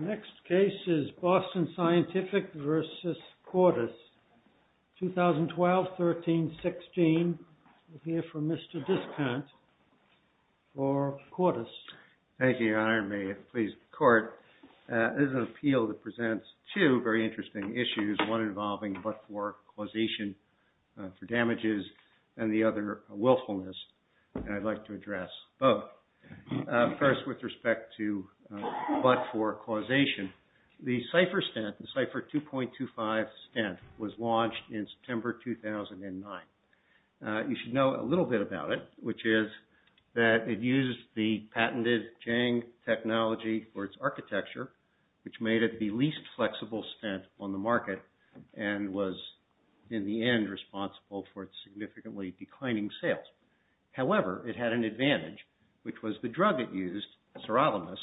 Next case is BOSTON SCIENTIFIC v. CORDIS, 2012-13-16. I'm here for Mr. Biscant for CORDIS. MR. BISCANT Thank you, Your Honor. May it please the Court. This is an appeal that presents two very interesting issues, one involving but-for causation for damages and the other willfulness, and I'd like to address both. First, with respect to but-for causation, the Cipher stint, the Cipher 2.25 stint, was launched in September 2009. You should know a little bit about it, which is that it used the patented JANG technology for its architecture, which made it the least flexible stint on the market and was in the end responsible for its significantly declining sales. However, it had an advantage, which was the drug it used, sirolimus,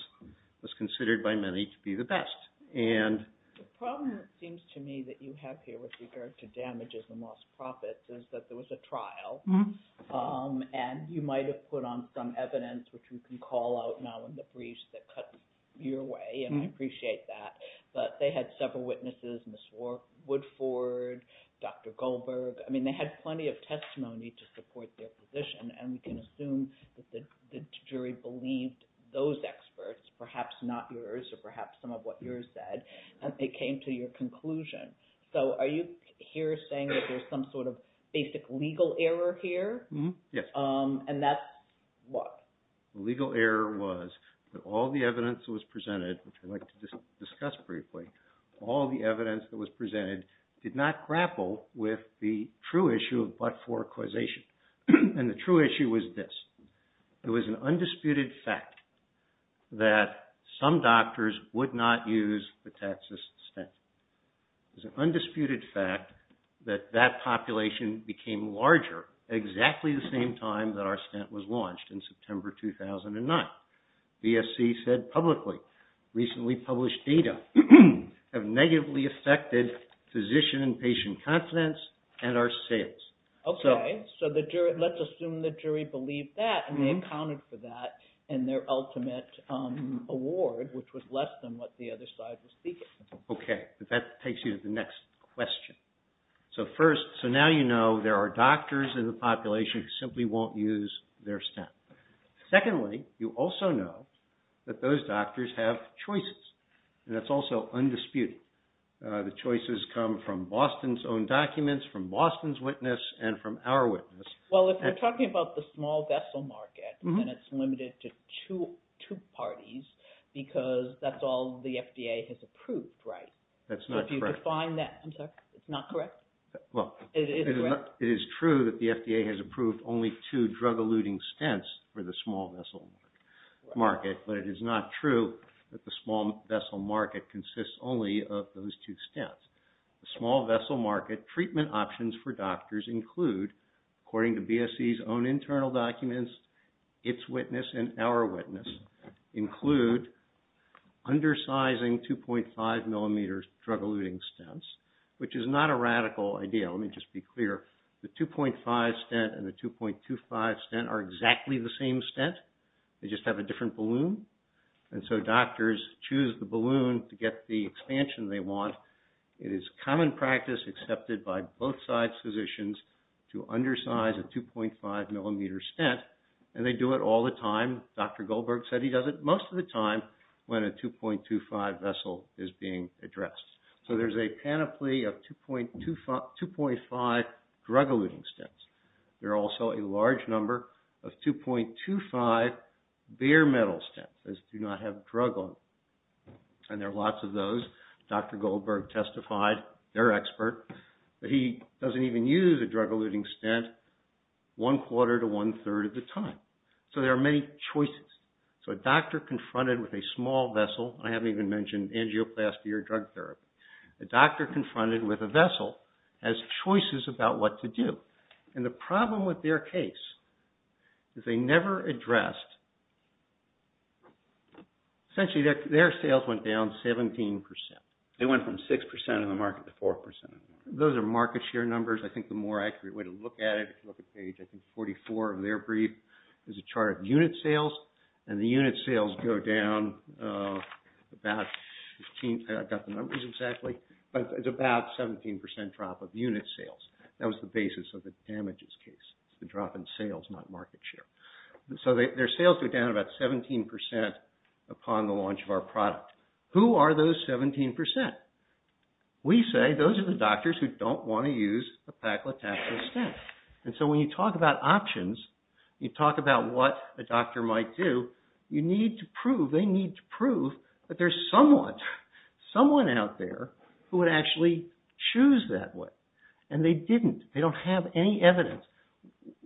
was considered by many to be the best. The problem, it seems to me, that you have here with regard to damages and lost profits is that there was a trial and you might have put on some evidence, which we can call out now in the briefs that cut your way, and I appreciate that, but they had several witnesses, Ms. Woodford, Dr. Goldberg. I mean, they had plenty of testimony to support their position, and we can assume that the jury believed those experts, perhaps not yours or perhaps some of what yours said, and they came to your conclusion. So are you here saying that there's some sort of basic legal error here? Yes. And that's what? The legal error was that all the evidence that was presented, which I'd like to discuss briefly, all the evidence that was presented did not grapple with the true issue of but-for causation, and the true issue was this. It was an undisputed fact that some doctors would not use the Texas stent. It was an undisputed fact that that population became larger exactly the same time that our stent was launched in September 2009. BSC said publicly, recently published data, have negatively affected physician and patient confidence and our sales. Okay. So let's assume the jury believed that, and they accounted for that in their ultimate award, which was less than what the other side was seeking. Okay. That takes you to the next question. So first, so now you know there are doctors in the population who simply won't use their stent. Secondly, you also know that those doctors have choices, and that's also undisputed. The choices come from Boston's own documents, from Boston's witness, and from our witness. Well, if we're talking about the small vessel market, then it's limited to two parties because that's all the FDA has approved, right? That's not correct. So if you define that, I'm sorry, it's not correct? Well, it is true that the FDA has approved only two drug-eluting stents for the small vessel market, but it is not true that the small vessel market consists only of those two stents. The small vessel market treatment options for doctors include, according to BSC's own internal documents, its witness and our witness, include undersizing 2.5-millimeter drug-eluting stents, which is not a radical idea. Let me just be clear. The 2.5 stent and the 2.25 stent are exactly the same stent. They just have a different balloon, and so doctors choose the balloon to get the expansion they want. It is common practice accepted by both side physicians to undersize a 2.5-millimeter stent, and they do it all the time. Dr. Goldberg said he does it most of the time when a 2.25 vessel is being addressed. So there's a panoply of 2.5 drug-eluting stents. There are also a large number of 2.25 bare metal stents that do not have drug on them, and there are lots of those. Dr. Goldberg testified, their expert, that he doesn't even use a drug-eluting stent one-quarter to one-third of the time. So there are many choices. So a doctor confronted with a small vessel, I haven't even mentioned angioplasty or drug therapy. A doctor confronted with a vessel has choices about what to do, and the problem with their case is they never addressed. Essentially, their sales went down 17%. They went from 6% of the market to 4%. Those are market share numbers. I think the more accurate way to look at it, if you look at page 44 of their brief, there's a chart of unit sales, and the unit sales go down about 17% drop of unit sales. That was the basis of the damages case, the drop in sales, not market share. So their sales go down about 17% upon the launch of our product. Who are those 17%? We say those are the doctors who don't want to use a paclitaxel stent. And so when you talk about options, you talk about what a doctor might do, you need to prove, they need to prove that there's someone, someone out there who would actually choose that way, and they didn't. They don't have any evidence.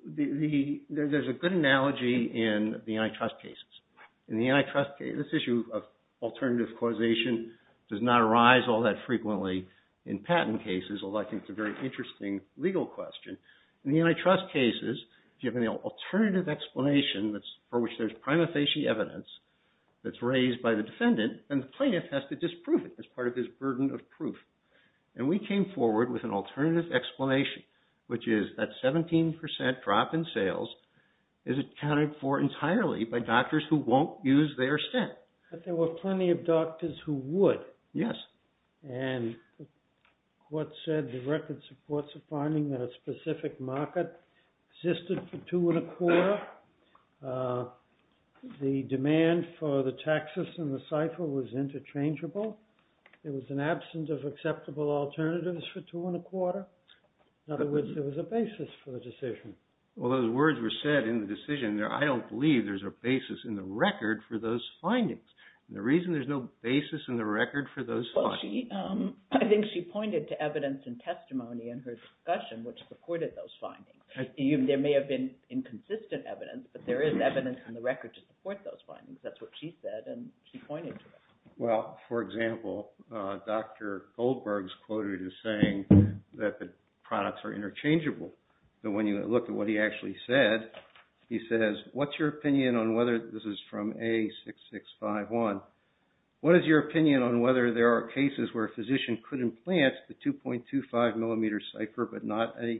There's a good analogy in the antitrust cases. In the antitrust case, this issue of alternative causation does not arise all that frequently in patent cases, although I think it's a very interesting legal question. In the antitrust cases, if you have an alternative explanation for which there's prima facie evidence that's raised by the defendant, then the plaintiff has to disprove it as part of his burden of proof. And we came forward with an alternative explanation, which is that 17% drop in sales is accounted for entirely by doctors who won't use their stent. But there were plenty of doctors who would. Yes. And what said the record supports a finding that a specific market existed for two and a quarter. The demand for the taxes in the cipher was interchangeable. There was an absence of acceptable alternatives for two and a quarter. In other words, there was a basis for the decision. Well, those words were said in the decision. I don't believe there's a basis in the record for those findings. The reason there's no basis in the record for those findings. I think she pointed to evidence and testimony in her discussion which supported those findings. There may have been inconsistent evidence, but there is evidence in the record to support those findings. That's what she said and she pointed to that. Well, for example, Dr. Goldberg's quoted as saying that the products are interchangeable. But when you look at what he actually said, he says, what's your opinion on whether this is from A6651. What is your opinion on whether there are cases where a physician could implant the 2.25 millimeter cipher but not a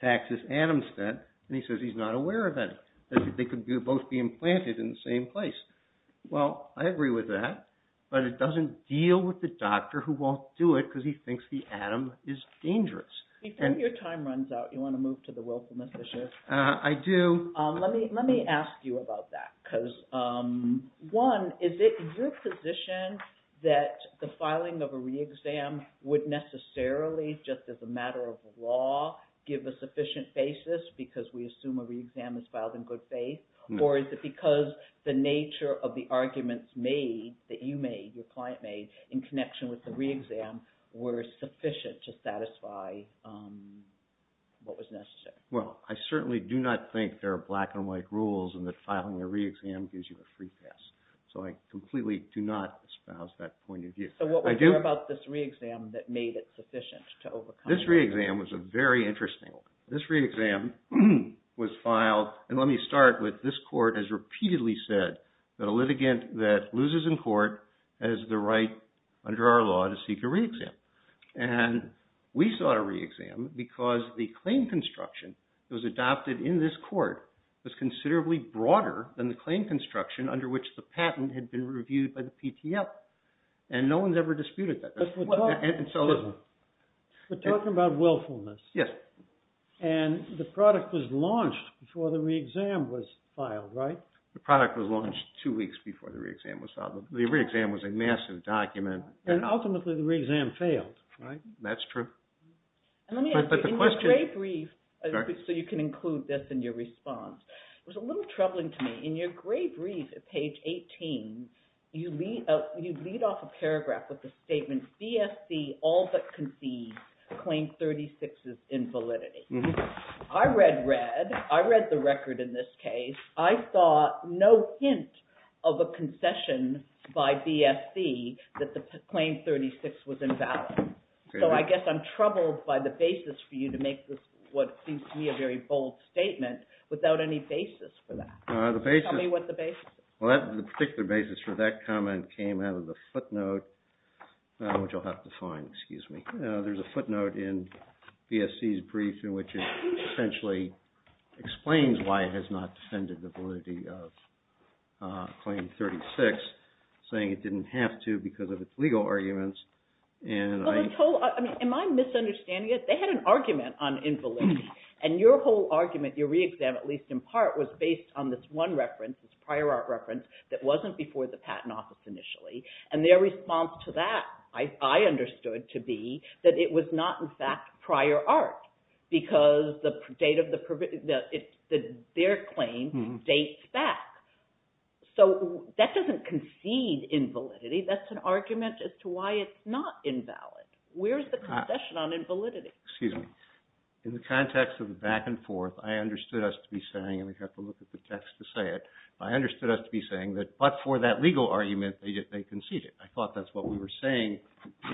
taxis atom set? And he says he's not aware of that. They could both be implanted in the same place. Well, I agree with that. But it doesn't deal with the doctor who won't do it because he thinks the atom is dangerous. Your time runs out. You want to move to the willfulness issue? I do. Let me ask you about that because, one, is it your position that the filing of a re-exam would necessarily, just as a matter of law, give a sufficient basis because we assume a re-exam is filed in good faith? Or is it because the nature of the arguments made, that you made, your client made, in connection with the re-exam were sufficient to satisfy what was necessary? Well, I certainly do not think there are black-and-white rules in that filing a re-exam gives you a free pass. So I completely do not espouse that point of view. So what was there about this re-exam that made it sufficient to overcome that? This re-exam was a very interesting one. This re-exam was filed, and let me start with, this court has repeatedly said that a litigant that loses in court has the right, under our law, to seek a re-exam. And we sought a re-exam because the claim construction that was adopted in this court was considerably broader than the claim construction under which the patent had been reviewed by the PTL. And no one's ever disputed that. But talk about willfulness. Yes. And the product was launched before the re-exam was filed, right? The product was launched two weeks before the re-exam was filed. The re-exam was a massive document. And ultimately, the re-exam failed, right? That's true. Let me ask you, in your grade brief, so you can include this in your response, it was a little troubling to me. In your grade brief at page 18, you lead off a paragraph with the statement, BSC all but concedes claim 36 is invalidity. I read red. I read the record in this case. I saw no hint of a concession by BSC that the claim 36 was invalid. So I guess I'm troubled by the basis for you to make what seems to me a very bold statement without any basis for that. Tell me what the basis is. Well, the particular basis for that comment came out of the footnote, which you'll have to find. Excuse me. There's a footnote in BSC's brief in which it essentially explains why it has not defended the validity of claim 36, saying it didn't have to because of its legal arguments. Am I misunderstanding it? They had an argument on invalidity. And your whole argument, your re-exam, at least in part, was based on this one reference, this prior art reference, that wasn't before the Patent Office initially. And their response to that, I understood to be that it was not, in fact, prior art, because their claim dates back. So that doesn't concede invalidity. That's an argument as to why it's not invalid. Where's the concession on invalidity? Excuse me. In the context of the back and forth, I understood us to be saying, and we have to look at the text to say it, I understood us to be saying that, but for that legal argument, they conceded. I thought that's what we were saying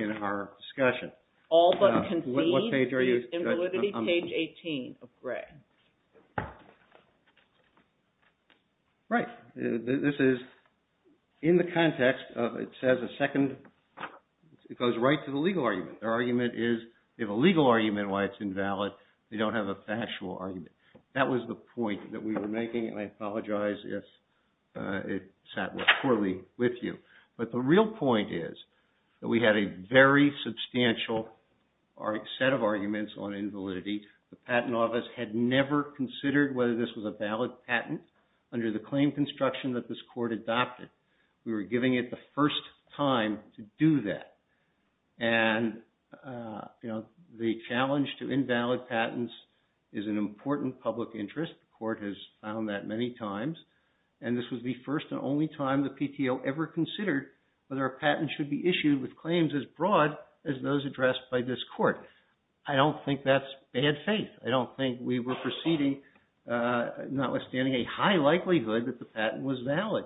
in our discussion. All but concede the invalidity, page 18 of Gray. This is in the context of, it says a second, it goes right to the legal argument. Their argument is, they have a legal argument why it's invalid. They don't have a factual argument. That was the point that we were making, and I apologize if it sat poorly with you. But the real point is that we had a very substantial set of arguments on invalidity. The Patent Office had never considered whether this was a valid patent under the claim construction that this court adopted. We were giving it the first time to do that, and the challenge to invalid patents is an important public interest. The court has found that many times, and this was the first and only time the PTO ever considered whether a patent should be issued with claims as broad as those addressed by this court. I don't think that's bad faith. I don't think we were proceeding, notwithstanding a high likelihood that the patent was valid.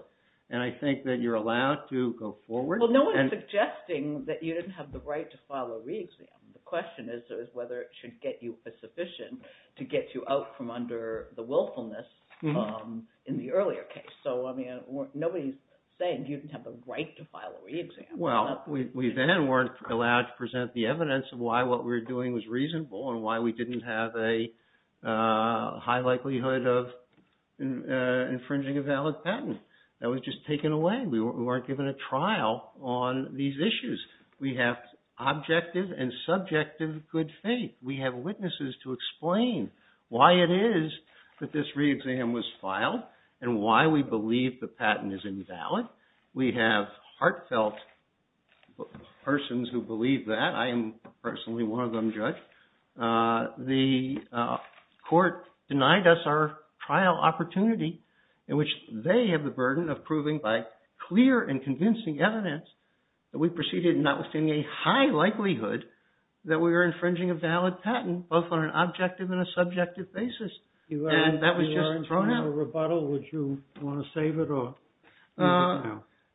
And I think that you're allowed to go forward. Well, no one is suggesting that you didn't have the right to file a re-exam. The question is whether it should get you sufficient to get you out from under the willfulness in the earlier case. So, I mean, nobody's saying you didn't have the right to file a re-exam. Well, we then weren't allowed to present the evidence of why what we were doing was reasonable and why we didn't have a high likelihood of infringing a valid patent. That was just taken away. We weren't given a trial on these issues. We have objective and subjective good faith. We have witnesses to explain why it is that this re-exam was filed and why we believe the patent is invalid. We have heartfelt persons who believe that. I am personally one of them, Judge. The court denied us our trial opportunity in which they have the burden of proving by clear and convincing evidence that we proceeded notwithstanding a high likelihood that we were infringing a valid patent, both on an objective and a subjective basis. And that was just thrown out. You are in front of a rebuttal. Would you want to save it? That's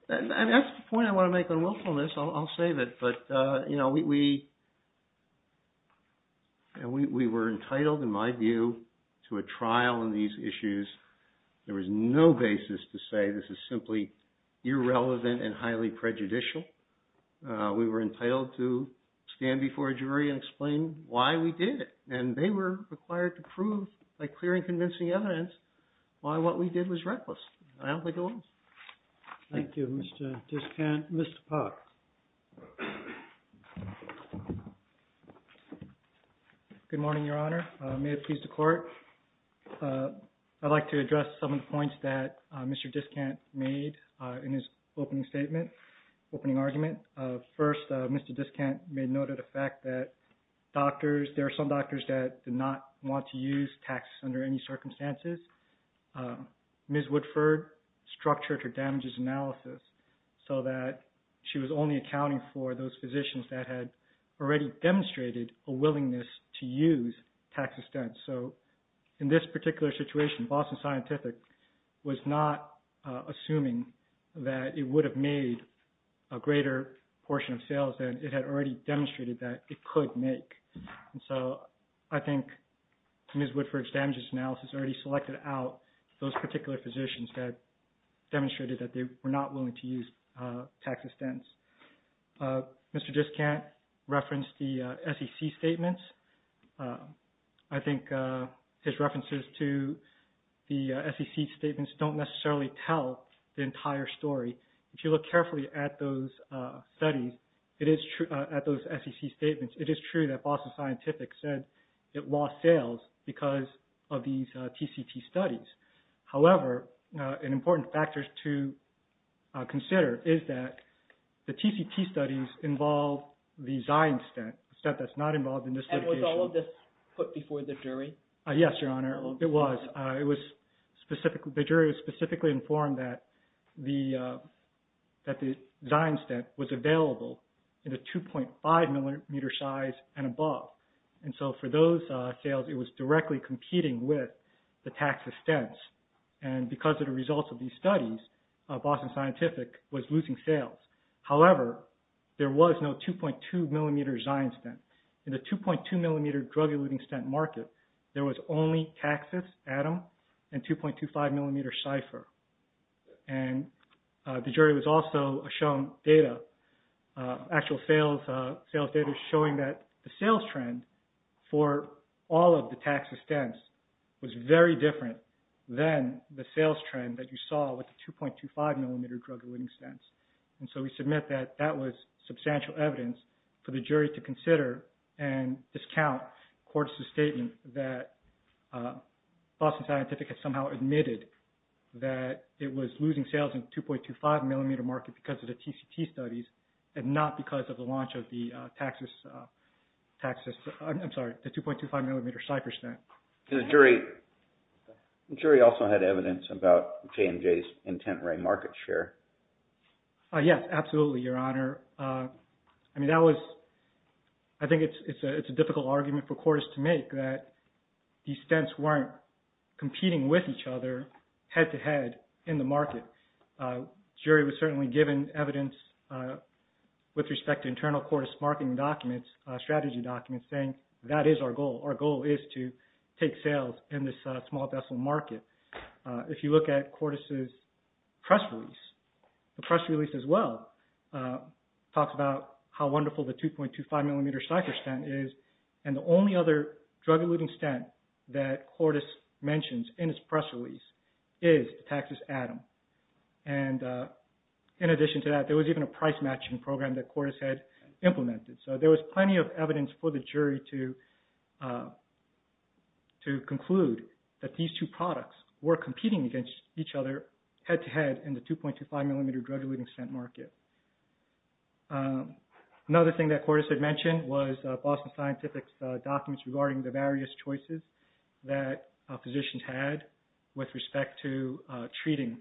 the point I want to make on willfulness. I'll save it. But we were entitled, in my view, to a trial on these issues. There was no basis to say this is simply irrelevant and highly prejudicial. We were entitled to stand before a jury and explain why we did it. And they were required to prove by clear and convincing evidence why what we did was reckless. I don't think it was. Thank you, Mr. Diskant. Mr. Park. Good morning, Your Honor. May it please the court. I'd like to address some of the points that Mr. Diskant made in his opening statement, opening argument. First, Mr. Diskant made note of the fact that there are some doctors that do not want to use taxes under any circumstances. Ms. Woodford structured her damages analysis so that she was only accounting for those physicians that had already demonstrated a willingness to use tax extents. So in this particular situation, Boston Scientific was not assuming that it would have made a greater portion of sales than it had already demonstrated that it could make. And so I think Ms. Woodford's damages analysis already selected out those particular physicians that demonstrated that they were not willing to use tax extents. Mr. Diskant referenced the SEC statements. I think his references to the SEC statements don't necessarily tell the entire story. If you look carefully at those studies, at those SEC statements, it is true that Boston Scientific said that it lost sales because of these TCT studies. However, an important factor to consider is that the TCT studies involve the Zion stent, the stent that's not involved in this litigation. And was all of this put before the jury? Yes, Your Honor, it was. The jury was specifically informed that the Zion stent was available in a 2.5 millimeter size and above. And so for those sales, it was directly competing with the tax extents. And because of the results of these studies, Boston Scientific was losing sales. However, there was no 2.2 millimeter Zion stent. In the 2.2 millimeter drug-eluting stent market, there was only taxes atom and 2.25 millimeter cipher. And the jury was also shown data, actual sales data showing that the sales trend for all of the taxes stents was very different than the sales trend that you saw with the 2.25 millimeter drug-eluting stents. And so we submit that that was substantial evidence for the jury to consider and discount court's statement that Boston Scientific has somehow admitted that it was losing sales in 2.25 millimeter market because of the TCT studies and not because of the launch of the taxes, I'm sorry, the 2.25 millimeter cipher stent. And the jury also had evidence about J&J's intent-ray market share. Yes, absolutely, Your Honor. I mean, that was, I think it's a difficult argument for courts to make that these stents weren't competing with each other head-to-head in the market. But jury was certainly given evidence with respect to internal court's marketing documents, strategy documents saying that is our goal. Our goal is to take sales in this small vessel market. If you look at court's press release, the press release as well talks about how wonderful the 2.25 millimeter cipher stent is. And the only other drug-eluting stent that court has mentioned in his press release is Taxes Atom. And in addition to that, there was even a price matching program that court has had implemented. So there was plenty of evidence for the jury to conclude that these two products were competing against each other head-to-head in the 2.25 millimeter drug-eluting stent market. Another thing that court has mentioned was Boston Scientific's documents regarding the various choices that physicians had with respect to treating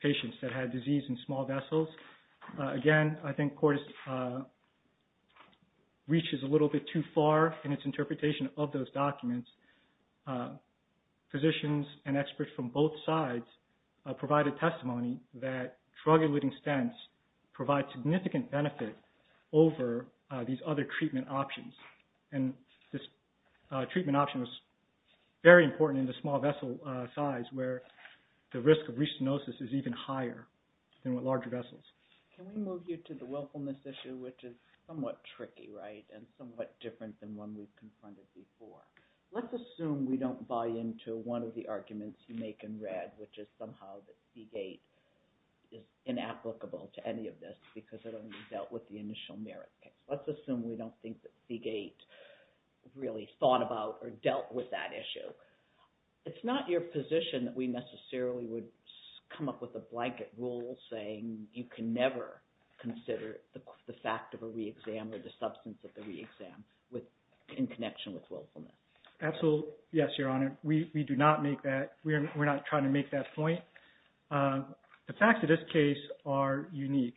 patients that had disease in small vessels. Again, I think court reaches a little bit too far in its interpretation of those documents. Physicians and experts from both sides provided testimony that drug-eluting stents provide significant benefit over these other treatment options. And this treatment option was very important in the small vessel size where the risk of restenosis is even higher than with larger vessels. Can we move you to the willfulness issue, which is somewhat tricky, right, and somewhat different than one we've confronted before? Let's assume we don't buy into one of the arguments you make in red, which is somehow that Seagate is inapplicable to any of this because it only dealt with the initial merit case. Let's assume we don't think that Seagate really thought about or dealt with that issue. It's not your position that we necessarily would come up with a blanket rule saying you can never consider the fact of a re-exam or the substance of the re-exam in connection with willfulness. Absolutely, yes, Your Honor. We do not make that. We're not trying to make that point. The facts of this case are unique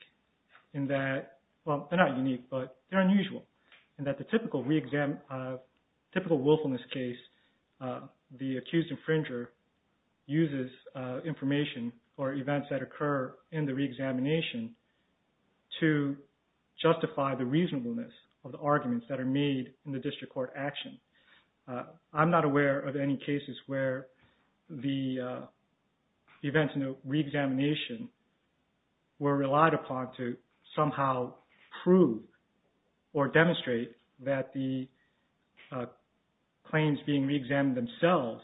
in that, well, they're not unique, but they're unusual, in that the typical willfulness case, the accused infringer uses information or events that occur in the re-examination to justify the reasonableness of the arguments that are made in the district court action. I'm not aware of any cases where the events in the re-examination were relied upon to somehow prove or demonstrate that the claims being re-examined themselves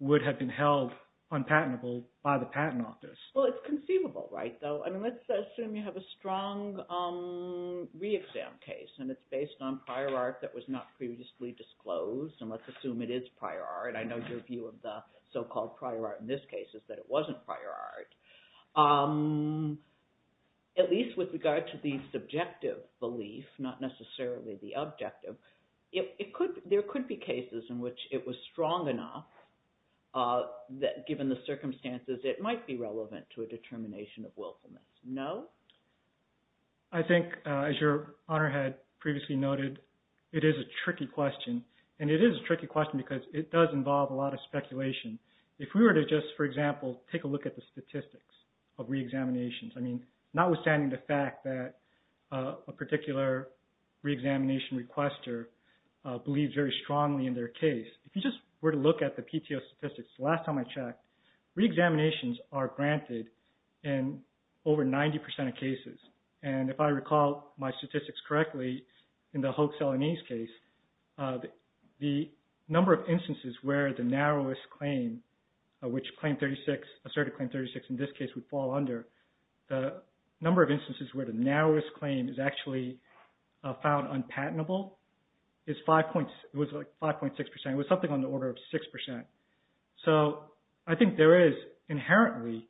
would have been held unpatentable by the patent office. Well, it's conceivable, right, though? Let's assume you have a strong re-exam case and it's based on prior art that was not previously disclosed. Let's assume it is prior art. I know your view of the so-called prior art in this case is that it wasn't prior art. At least with regard to the subjective belief, not necessarily the objective, there could be cases in which it was strong enough that, given the circumstances, it might be relevant to a determination of willfulness. No? I think, as Your Honor had previously noted, it is a tricky question, and it is a tricky question because it does involve a lot of speculation. If we were to just, for example, take a look at the statistics of re-examinations, I mean, notwithstanding the fact that a particular re-examination requester believes very strongly in their case, if you just were to look at the PTO statistics the last time I checked, re-examinations are granted in over 90% of cases. And if I recall my statistics correctly, in the Hoek-Seleny's case, the number of instances where the narrowest claim, which Claim 36, Asserted Claim 36, in this case would fall under, the number of instances where the narrowest claim is actually found unpatentable is 5.6%. It was something on the order of 6%. So I think there is inherently...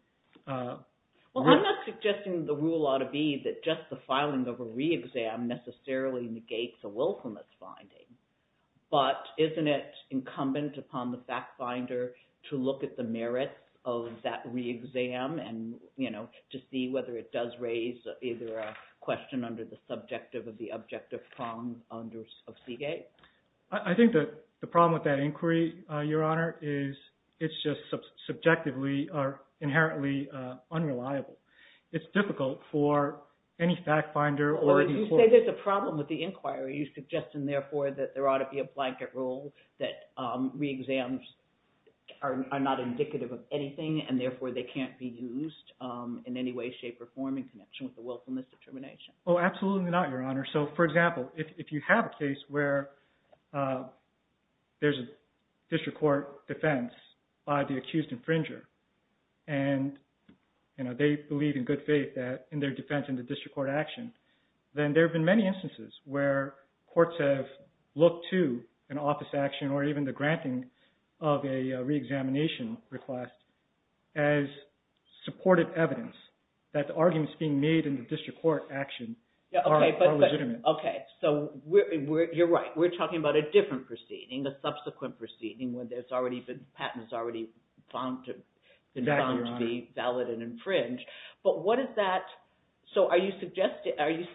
Well, I'm not suggesting the rule ought to be that just the filing of a re-exam necessarily negates a willfulness finding, but isn't it incumbent upon the fact-finder to look at the merits of that re-exam and, you know, to see whether it does raise either a question under the subjective or the objective prongs of Seagate? I think that the problem with that inquiry, Your Honor, is it's just subjectively or inherently unreliable. It's difficult for any fact-finder or... Well, you say there's a problem with the inquiry. You're suggesting, therefore, that there ought to be a blanket rule that re-exams are not indicative of anything and, therefore, they can't be used in any way, shape, or form in connection with the willfulness determination. Oh, absolutely not, Your Honor. So, for example, if you have a case where there's a district court defense by the accused infringer and, you know, they believe in good faith that in their defense in the district court action, then there have been many instances where courts have looked to an office action or even the granting of a re-examination request as supportive evidence that the arguments being made in the district court action are legitimate. Okay, so you're right. We're talking about a different proceeding, a subsequent proceeding where there's already been... patent has already been found to be valid and infringe. But what does that... So, are you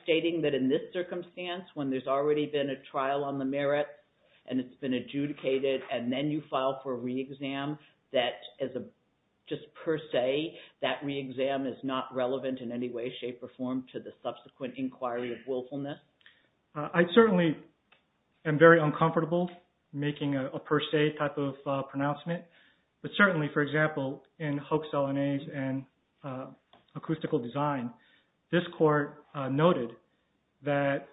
stating that in this circumstance when there's already been a trial on the merit and it's been adjudicated and then you file for a re-exam that, just per se, that re-exam is not relevant in any way, shape, or form to the subsequent inquiry of willfulness? I certainly am very uncomfortable making a per se type of pronouncement. But certainly, for example, in hoax LNAs and acoustical design, this court noted that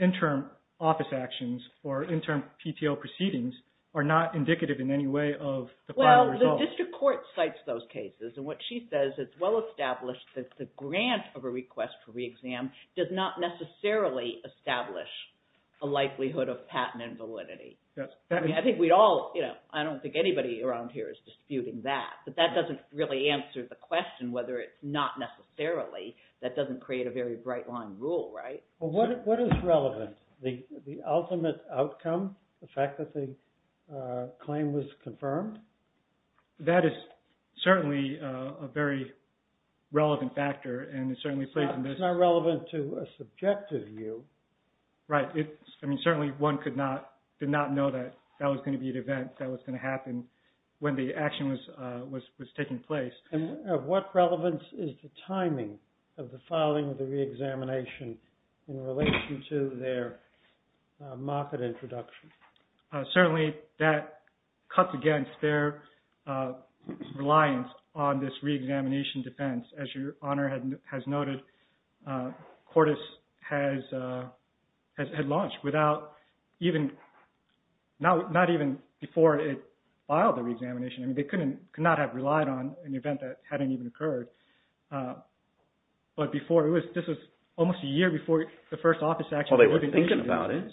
interim office actions or interim PTO proceedings are not indicative in any way of the final result. Well, the district court cites those cases and what she says, it's well established that the grant of a request for re-exam does not necessarily establish the likelihood of patent invalidity. Yes. I mean, I think we all, you know, I don't think anybody around here is disputing that. But that doesn't really answer the question whether it's not necessarily. That doesn't create a very bright line rule, right? Well, what is relevant? The ultimate outcome? The fact that the claim was confirmed? That is certainly a very relevant factor and it certainly plays into this. It's not relevant to a subjective view. Right. I mean, certainly one could not, did not know that that was going to be an event that was going to happen when the action was taking place. And what relevance is the timing of the filing of the re-examination in relation to their market introduction? Certainly that cuts against their reliance on this re-examination defense. As your Honor has noted, CORTIS had launched without even, not even before it filed the re-examination. I mean, they could not have relied on an event that hadn't even occurred. But before it was, this was almost a year before the first office action. Well, they were thinking about it.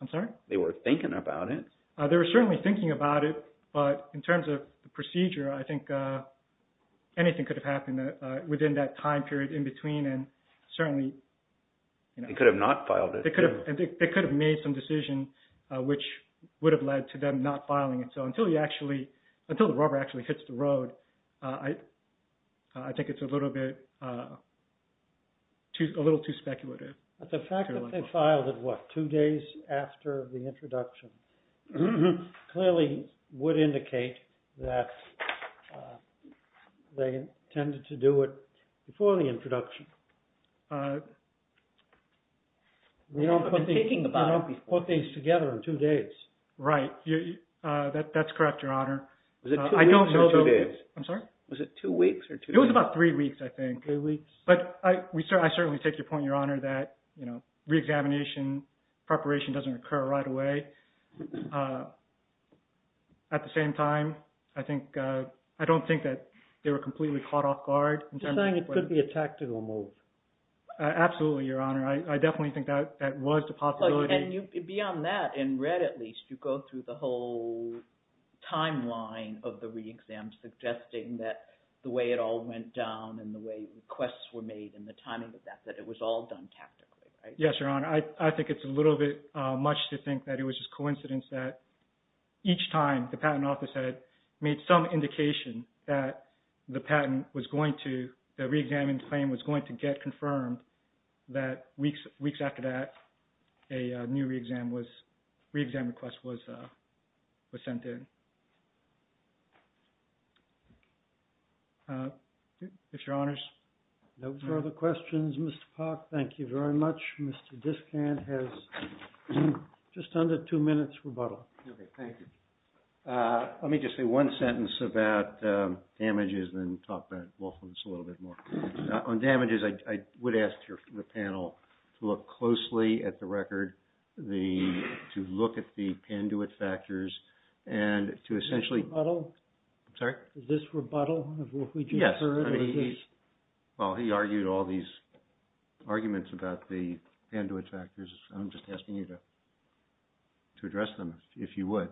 I'm sorry? They were thinking about it. They were certainly thinking about it, but in terms of procedure, I think anything could have happened within that time period in between and certainly, you know. They could have not filed it. They could have made some decision which would have led to them not filing it. So until you actually, until the rubber actually hits the road, I think it's a little bit, a little too speculative. But the fact that they filed it, what, two days after the introduction clearly would indicate that they intended to do it before the introduction. We don't put things together in two days. Right. That's correct, Your Honor. Was it two weeks or two days? I'm sorry? Was it two weeks or two days? It was about three weeks, I think. Three weeks. But I certainly take your point, Your Honor, that, you know, re-examination, preparation doesn't occur right away. At the same time, I think, I don't think that they were completely caught off guard. You're saying it could be a tactical move. Absolutely, Your Honor. I definitely think that that was the possibility. And beyond that, in red at least, you go through the whole timeline of the re-exam, suggesting that the way it all went down and the way requests were made and the timing of that, that it was all done tactically, right? Yes, Your Honor. I think it's a little bit much to think that it was just coincidence that each time the patent office had made some indication that the patent was going to, the re-examined claim was going to get confirmed, that weeks after that, a new re-exam was, re-exam request was sent in. If Your Honors. No further questions. Mr. Park, thank you very much. Mr. Discant has just under two minutes rebuttal. Okay, thank you. Let me just say one sentence about damages and then talk about lawfulness a little bit more. On damages, I would ask the panel to look closely at the record, to look at the Panduit factors and to essentially... This rebuttal? I'm sorry? This rebuttal of what we just heard? Yes. Well, he argued all these arguments about the Panduit factors. I'm just asking you to address them, if you would.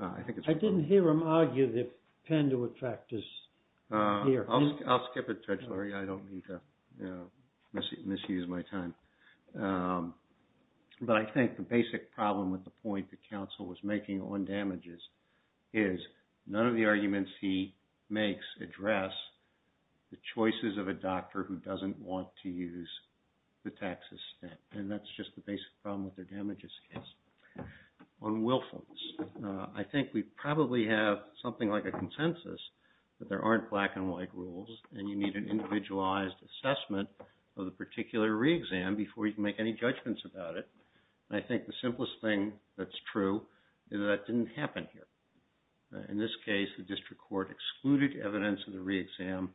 I didn't hear him argue the Panduit factors here. I'll skip it, Judge Lurie. I don't mean to misuse my time. But I think the basic problem with the point the counsel was making on damages is none of the arguments he makes address the choices of a doctor who doesn't want to use the taxes stamp. And that's just the basic problem with the damages case. On willfulness, I think we probably have something like a consensus that there aren't black and white rules and you need an individualized assessment of the particular re-exam before you can make any judgments about it. And I think the simplest thing that's true is that that didn't happen here. In this case, the district court excluded evidence of the re-exam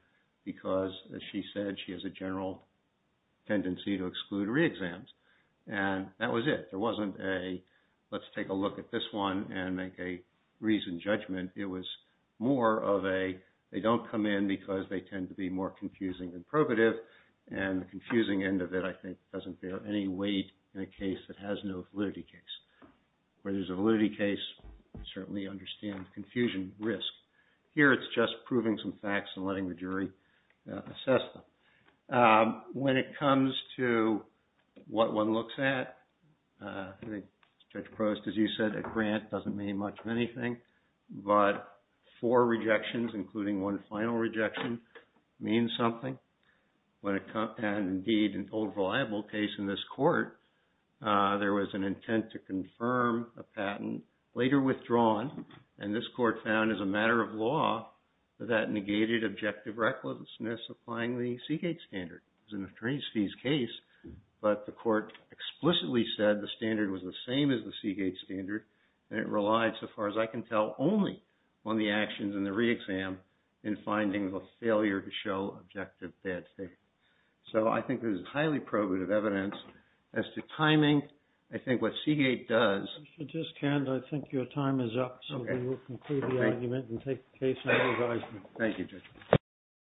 because, as she said, she has a general tendency to exclude re-exams. And that was it. There wasn't a, let's take a look at this one and make a reasoned judgment. It was more of a, they don't come in because they tend to be more confusing than probative. And the confusing end of it, I think, doesn't bear any weight in a case that has no validity case. Where there's a validity case, you certainly understand the confusion risk. Here, it's just proving some facts and letting the jury assess them. When it comes to what one looks at, Judge Prost, as you said, a grant doesn't mean much of anything. But four rejections, including one final rejection, means something. And indeed, an old reliable case in this court, there was an intent to confirm a patent, later withdrawn, and this court found as a matter of law that that negated objective recklessness applying the Seagate standard. It was an attorney's fees case, but the court explicitly said the standard was the same as the Seagate standard and it relied, so far as I can tell, only on the actions in the re-exam in finding the failure to show objective bad faith. So, I think this is highly probative evidence. As to timing, I think what Seagate does... If you just can, I think your time is up. Okay. and take the case under advisement. Thank you, Judge.